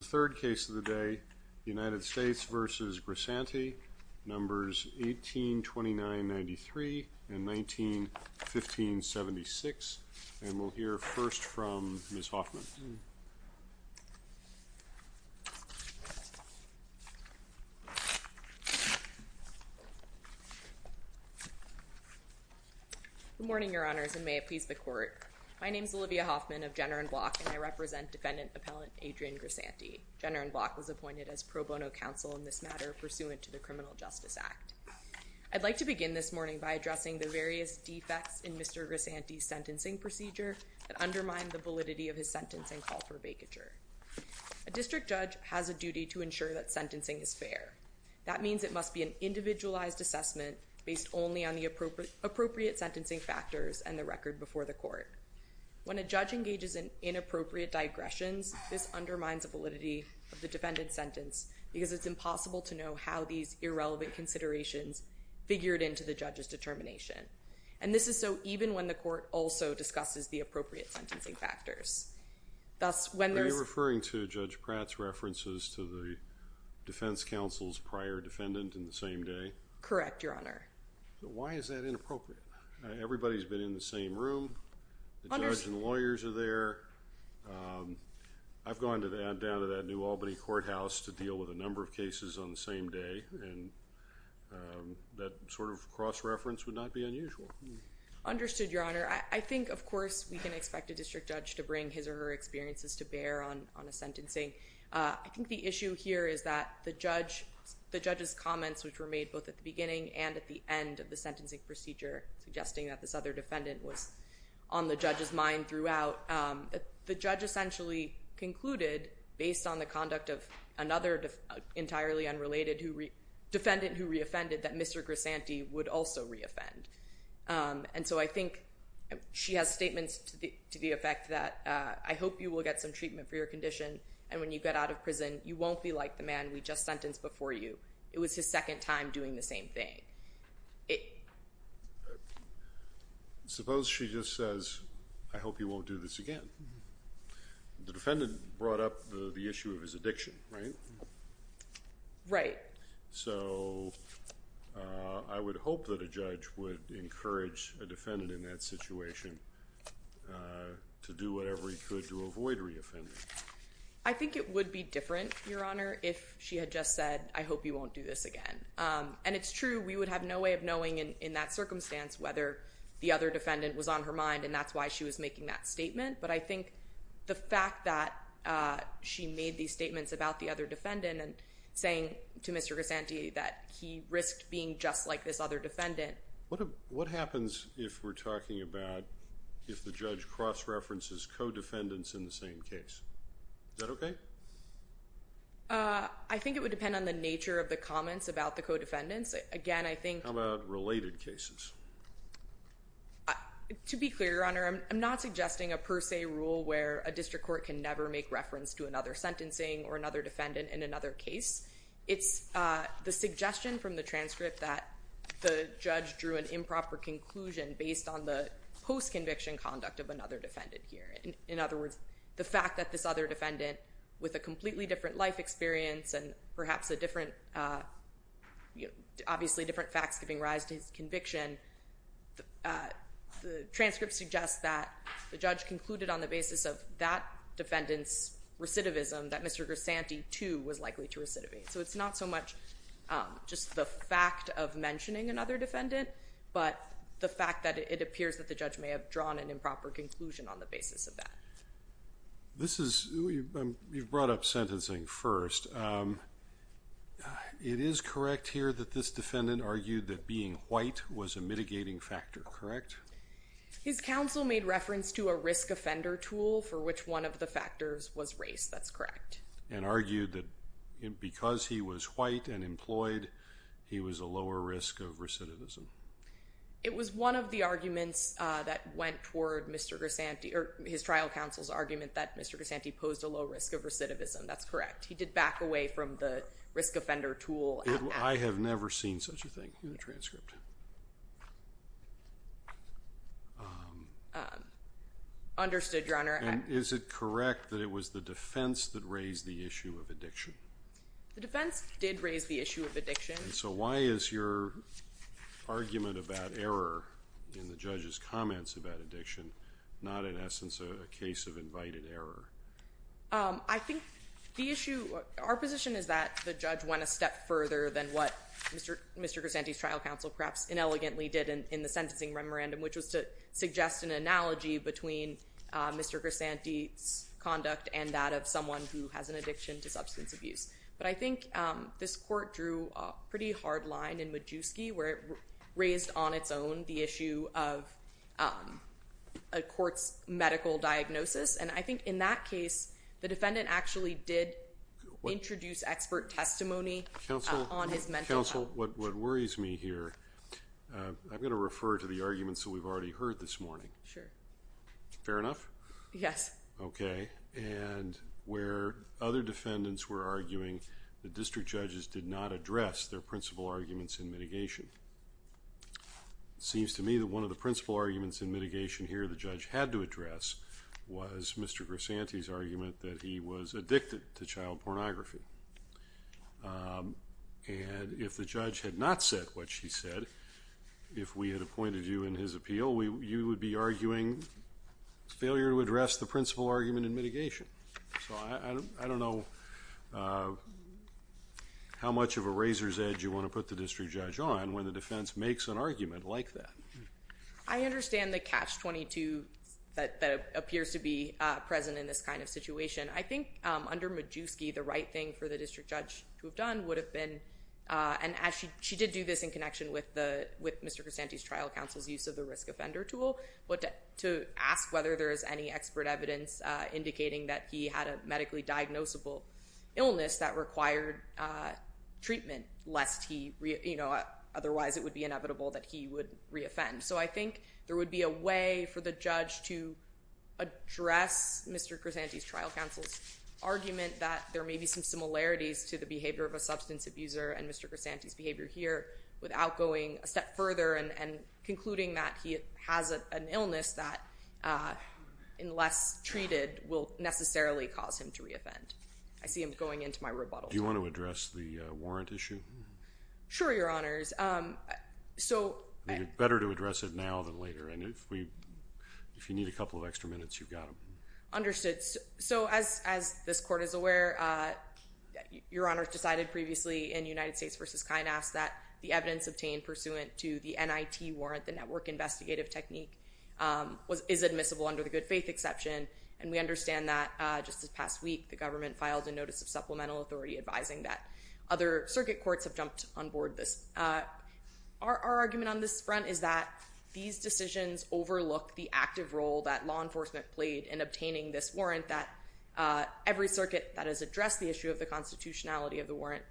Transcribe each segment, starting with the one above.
The third case of the day, United States v. Grisanti, Numbers 1829-93 and 1915-76, and we'll hear first from Ms. Hoffman. Good morning, Your Honors, and may it please the Court. My name is Olivia Hoffman of Jenner & Bloch, and I represent Defendant Appellant Adrian Grisanti. Jenner & Bloch was appointed as pro bono counsel in this matter pursuant to the Criminal Justice Act. I'd like to begin this morning by addressing the various defects in Mr. Grisanti's sentencing procedure that undermine the validity of his sentencing call for vacature. A district judge has a duty to ensure that sentencing is fair. That means it must be an individualized assessment based only on the appropriate sentencing factors and the record before the court. When a judge engages in inappropriate digressions, this undermines the validity of the defendant's sentence because it's impossible to know how these irrelevant considerations figured into the judge's determination. And this is so even when the court also discusses the appropriate sentencing factors. Thus, when there's- Are you referring to Judge Pratt's references to the defense counsel's prior defendant in the same day? Correct, Your Honor. Why is that inappropriate? Everybody's been in the same room. The judge and lawyers are there. I've gone down to that New Albany courthouse to deal with a number of cases on the same day and that sort of cross-reference would not be unusual. Understood, Your Honor. I think, of course, we can expect a district judge to bring his or her experiences to bear on a sentencing. I think the issue here is that the judge's comments, which were made both at the beginning and at the end of the sentencing procedure, suggesting that this other defendant was on the judge's mind throughout, the judge essentially concluded, based on the conduct of another entirely unrelated defendant who re-offended, that Mr. Grisanti would also re-offend. And so I think she has statements to the effect that, I hope you will get some treatment for your condition and when you get out of prison, you won't be like the man we just sentenced before you. It was his second time doing the same thing. Suppose she just says, I hope you won't do this again. The defendant brought up the issue of his addiction, right? Right. So I would hope that a judge would encourage a defendant in that situation to do whatever he could to avoid re-offending. I think it would be different, Your Honor, if she had just said, I hope you won't do this again. And it's true, we would have no way of knowing in that circumstance whether the other defendant was on her mind and that's why she was making that statement. But I think the fact that she made these statements about the other defendant and saying to Mr. Grisanti that he risked being just like this other defendant. What happens if we're talking about if the judge cross-references co-defendants in the same case? Is that okay? I think it would depend on the nature of the comments about the co-defendants. Again I think- How about related cases? To be clear, Your Honor, I'm not suggesting a per se rule where a district court can never make reference to another sentencing or another defendant in another case. It's the suggestion from the transcript that the judge drew an improper conclusion based on the post-conviction conduct of another defendant here. In other words, the fact that this other defendant with a completely different life experience and perhaps a different, obviously different facts giving rise to his conviction, the transcript suggests that the judge concluded on the basis of that defendant's recidivism that Mr. Grisanti too was likely to recidivate. So it's not so much just the fact of mentioning another defendant, but the fact that it appears that the judge may have drawn an improper conclusion on the basis of that. This is- you've brought up sentencing first. It is correct here that this defendant argued that being white was a mitigating factor, correct? His counsel made reference to a risk offender tool for which one of the factors was race, that's correct. And argued that because he was white and employed, he was a lower risk of recidivism. It was one of the arguments that went toward Mr. Grisanti, or his trial counsel's argument that Mr. Grisanti posed a low risk of recidivism, that's correct. He did back away from the risk offender tool. I have never seen such a thing in the transcript. Understood Your Honor. And is it correct that it was the defense that raised the issue of addiction? The defense did raise the issue of addiction. So why is your argument about error in the judge's comments about addiction not in essence a case of invited error? I think the issue- our position is that the judge went a step further than what Mr. Grisanti's trial counsel perhaps inelegantly did in the sentencing memorandum, which was to suggest an analogy between Mr. Grisanti's conduct and that of someone who has an addiction to substance abuse. But I think this court drew a pretty hard line in Majewski where it raised on its own the issue of a court's medical diagnosis. And I think in that case, the defendant actually did introduce expert testimony on his mental health. Counsel, what worries me here, I'm going to refer to the arguments that we've already heard this morning. Sure. Fair enough? Yes. Okay. And where other defendants were arguing, the district judges did not address their principal arguments in mitigation. Seems to me that one of the principal arguments in mitigation here the judge had to address was Mr. Grisanti's argument that he was addicted to child pornography. And if the judge had not said what she said, if we had appointed you in his appeal, you would be arguing failure to address the principal argument in mitigation. So I don't know how much of a razor's edge you want to put the district judge on when the defense makes an argument like that. I understand the catch-22 that appears to be present in this kind of situation. I think under Majewski, the right thing for the district judge to have done would have been, and she did do this in connection with Mr. Grisanti's trial counsel's use of the risk offender tool, but to ask whether there is any expert evidence indicating that he had a medically diagnosable illness that required treatment, lest he, you know, otherwise it would be inevitable that he would reoffend. So I think there would be a way for the judge to address Mr. Grisanti's trial counsel's argument that there may be some similarities to the behavior of a substance abuser and further and concluding that he has an illness that, unless treated, will necessarily cause him to reoffend. I see him going into my rebuttal. Do you want to address the warrant issue? Sure, Your Honors. So better to address it now than later, and if you need a couple of extra minutes, you've got them. Understood. So as this court is aware, Your Honors decided previously in United States v. Kynast that the evidence obtained pursuant to the NIT warrant, the network investigative technique, is admissible under the good faith exception, and we understand that just this past week the government filed a notice of supplemental authority advising that other circuit courts have jumped on board this. Our argument on this front is that these decisions overlook the active role that law enforcement played in obtaining this warrant, that every circuit that has addressed the issue of the warrant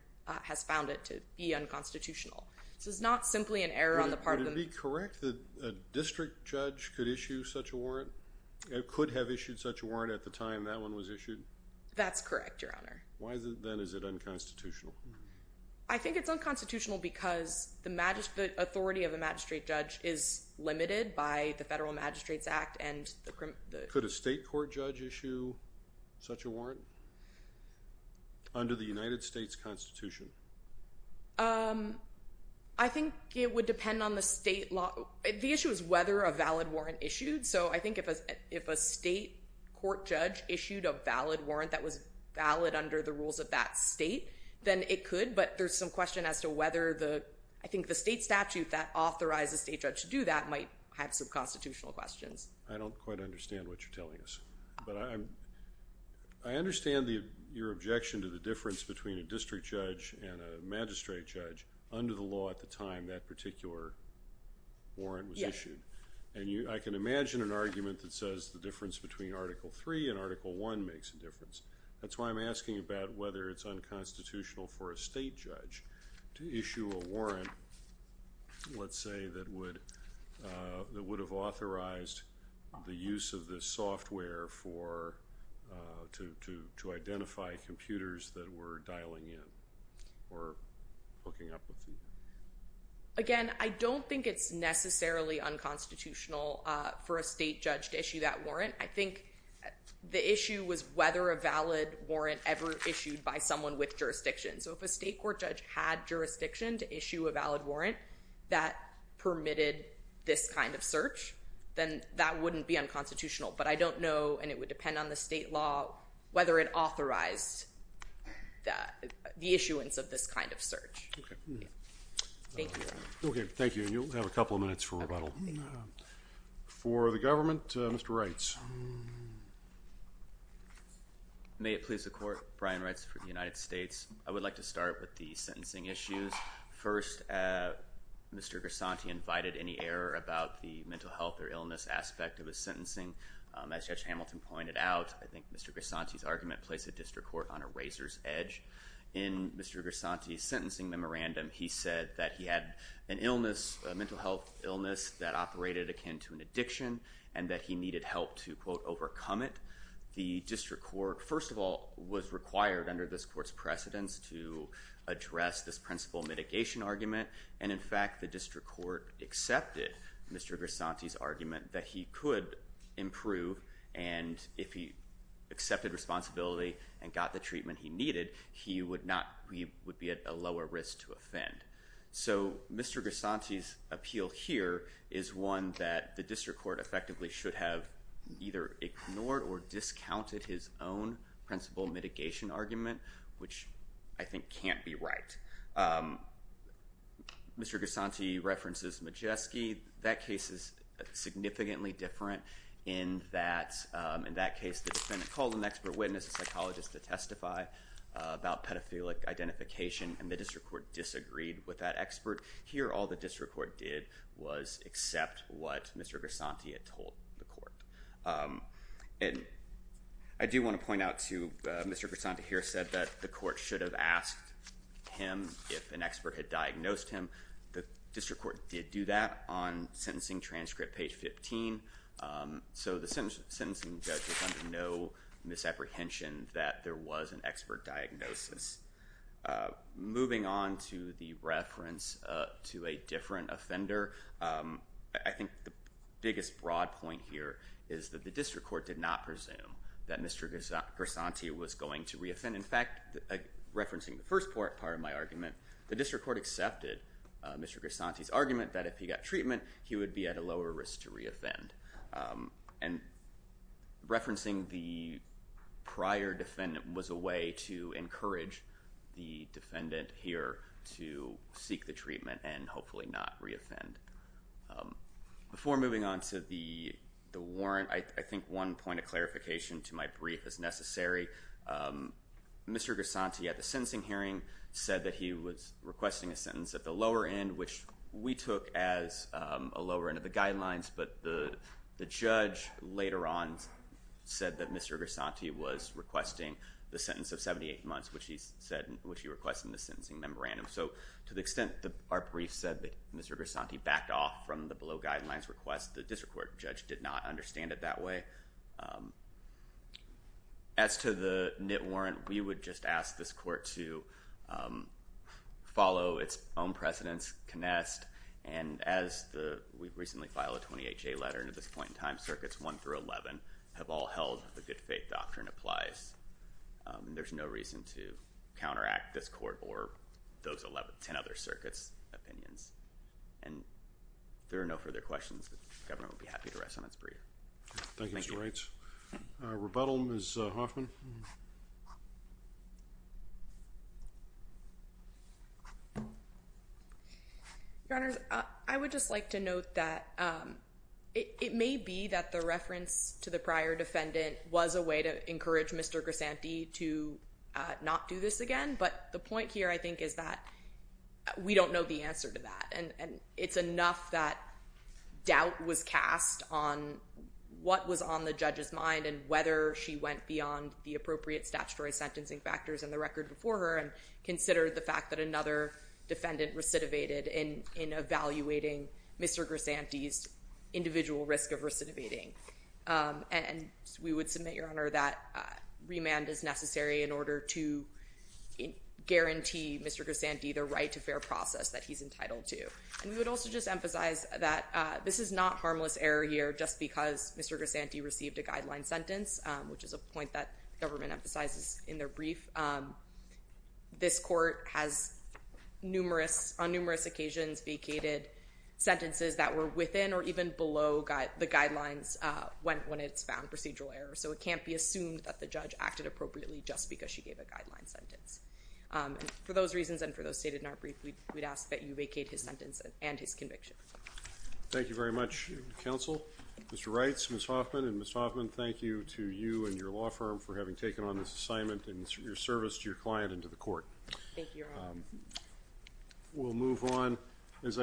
is unconstitutional. So it's not simply an error on the part of the... Would it be correct that a district judge could issue such a warrant? Could have issued such a warrant at the time that one was issued? That's correct, Your Honor. Why then is it unconstitutional? I think it's unconstitutional because the authority of a magistrate judge is limited by the Federal Magistrates Act and the... Could a state court judge issue such a warrant under the United States Constitution? I think it would depend on the state law... The issue is whether a valid warrant issued. So I think if a state court judge issued a valid warrant that was valid under the rules of that state, then it could, but there's some question as to whether the... I think the state statute that authorizes a state judge to do that might have some constitutional questions. I don't quite understand what you're telling us, but I understand your objection to the and a magistrate judge, under the law at the time that particular warrant was issued. I can imagine an argument that says the difference between Article III and Article I makes a difference. That's why I'm asking about whether it's unconstitutional for a state judge to issue a warrant, let's say, that would have authorized the use of this software to identify computers that were or hooking up with the... Again, I don't think it's necessarily unconstitutional for a state judge to issue that warrant. I think the issue was whether a valid warrant ever issued by someone with jurisdiction. So if a state court judge had jurisdiction to issue a valid warrant that permitted this kind of search, then that wouldn't be unconstitutional. But I don't know, and it would depend on the state law, whether it authorized the issuance of this kind of search. Okay. Thank you. Okay. Thank you. And you'll have a couple of minutes for rebuttal. Okay. For the government, Mr. Reitz. May it please the court. Brian Reitz for the United States. I would like to start with the sentencing issues. First, Mr. Grisanti invited any error about the mental health or illness aspect of his sentencing. As Judge Hamilton pointed out, I think Mr. Grisanti's argument placed the district court on a razor's edge. In Mr. Grisanti's sentencing memorandum, he said that he had an illness, a mental health illness that operated akin to an addiction, and that he needed help to, quote, overcome it. The district court, first of all, was required under this court's precedence to address this principal mitigation argument. And in fact, the district court accepted Mr. Grisanti's argument that he could improve and if he accepted responsibility and got the treatment he needed, he would be at a lower risk to offend. So Mr. Grisanti's appeal here is one that the district court effectively should have either ignored or discounted his own principal mitigation argument, which I think can't be right. Mr. Grisanti references Majeski. That case is significantly different in that, in that case, the defendant called an expert witness, a psychologist, to testify about pedophilic identification, and the district court disagreed with that expert. Here all the district court did was accept what Mr. Grisanti had told the court. And I do want to point out, too, Mr. Grisanti here said that the court should have asked him if an expert had diagnosed him. The district court did do that on sentencing transcript page 15. So the sentencing judge was under no misapprehension that there was an expert diagnosis. Moving on to the reference to a different offender, I think the biggest broad point here is that the district court did not presume that Mr. Grisanti was going to reoffend. In fact, referencing the first part of my argument, the district court accepted Mr. Grisanti's argument that if he got treatment, he would be at a lower risk to reoffend. And referencing the prior defendant was a way to encourage the defendant here to seek the treatment and hopefully not reoffend. Before moving on to the warrant, I think one point of clarification to my brief is necessary. Mr. Grisanti at the sentencing hearing said that he was requesting a sentence at the lower end, which we took as a lower end of the guidelines. But the judge later on said that Mr. Grisanti was requesting the sentence of 78 months, which he requested in the sentencing memorandum. So to the extent that our brief said that Mr. Grisanti backed off from the below guidelines request, the district court judge did not understand it that way. As to the knit warrant, we would just ask this court to follow its own precedence, connect, and as we recently filed a 20HA letter at this point in time, circuits 1 through 11 have all held the good faith doctrine applies. There's no reason to counteract this court or those 10 other circuits' opinions. And there are no further questions. The governor will be happy to rest on its breed. Thank you. Thank you, Mr. Wright. Rebuttal, Ms. Hoffman. Your Honors, I would just like to note that it may be that the reference to the prior defendant was a way to encourage Mr. Grisanti to not do this again. But the point here, I think, is that we don't know the answer to that. And it's enough that doubt was cast on what was on the judge's mind and whether she went beyond the appropriate statutory sentencing factors in the record before her and considered the fact that another defendant recidivated in evaluating Mr. Grisanti's individual risk of recidivating. And we would submit, Your Honor, that remand is necessary in order to guarantee Mr. Grisanti the right to fair process that he's entitled to. And we would also just emphasize that this is not harmless error here just because Mr. Grisanti received a guideline sentence, which is a point that government emphasizes in their brief. This court has, on numerous occasions, vacated sentences that were within or even below the guidelines when it's found procedural error. So it can't be assumed that the judge acted appropriately just because she gave a guideline sentence. For those reasons and for those stated in our brief, we'd ask that you vacate his sentence and his conviction. Thank you very much, counsel. Mr. Reitz, Ms. Hoffman, and Ms. Hoffman, thank you to you and your law firm for having taken on this assignment and your service to your client and to the court. Thank you, Your Honor. We'll move on.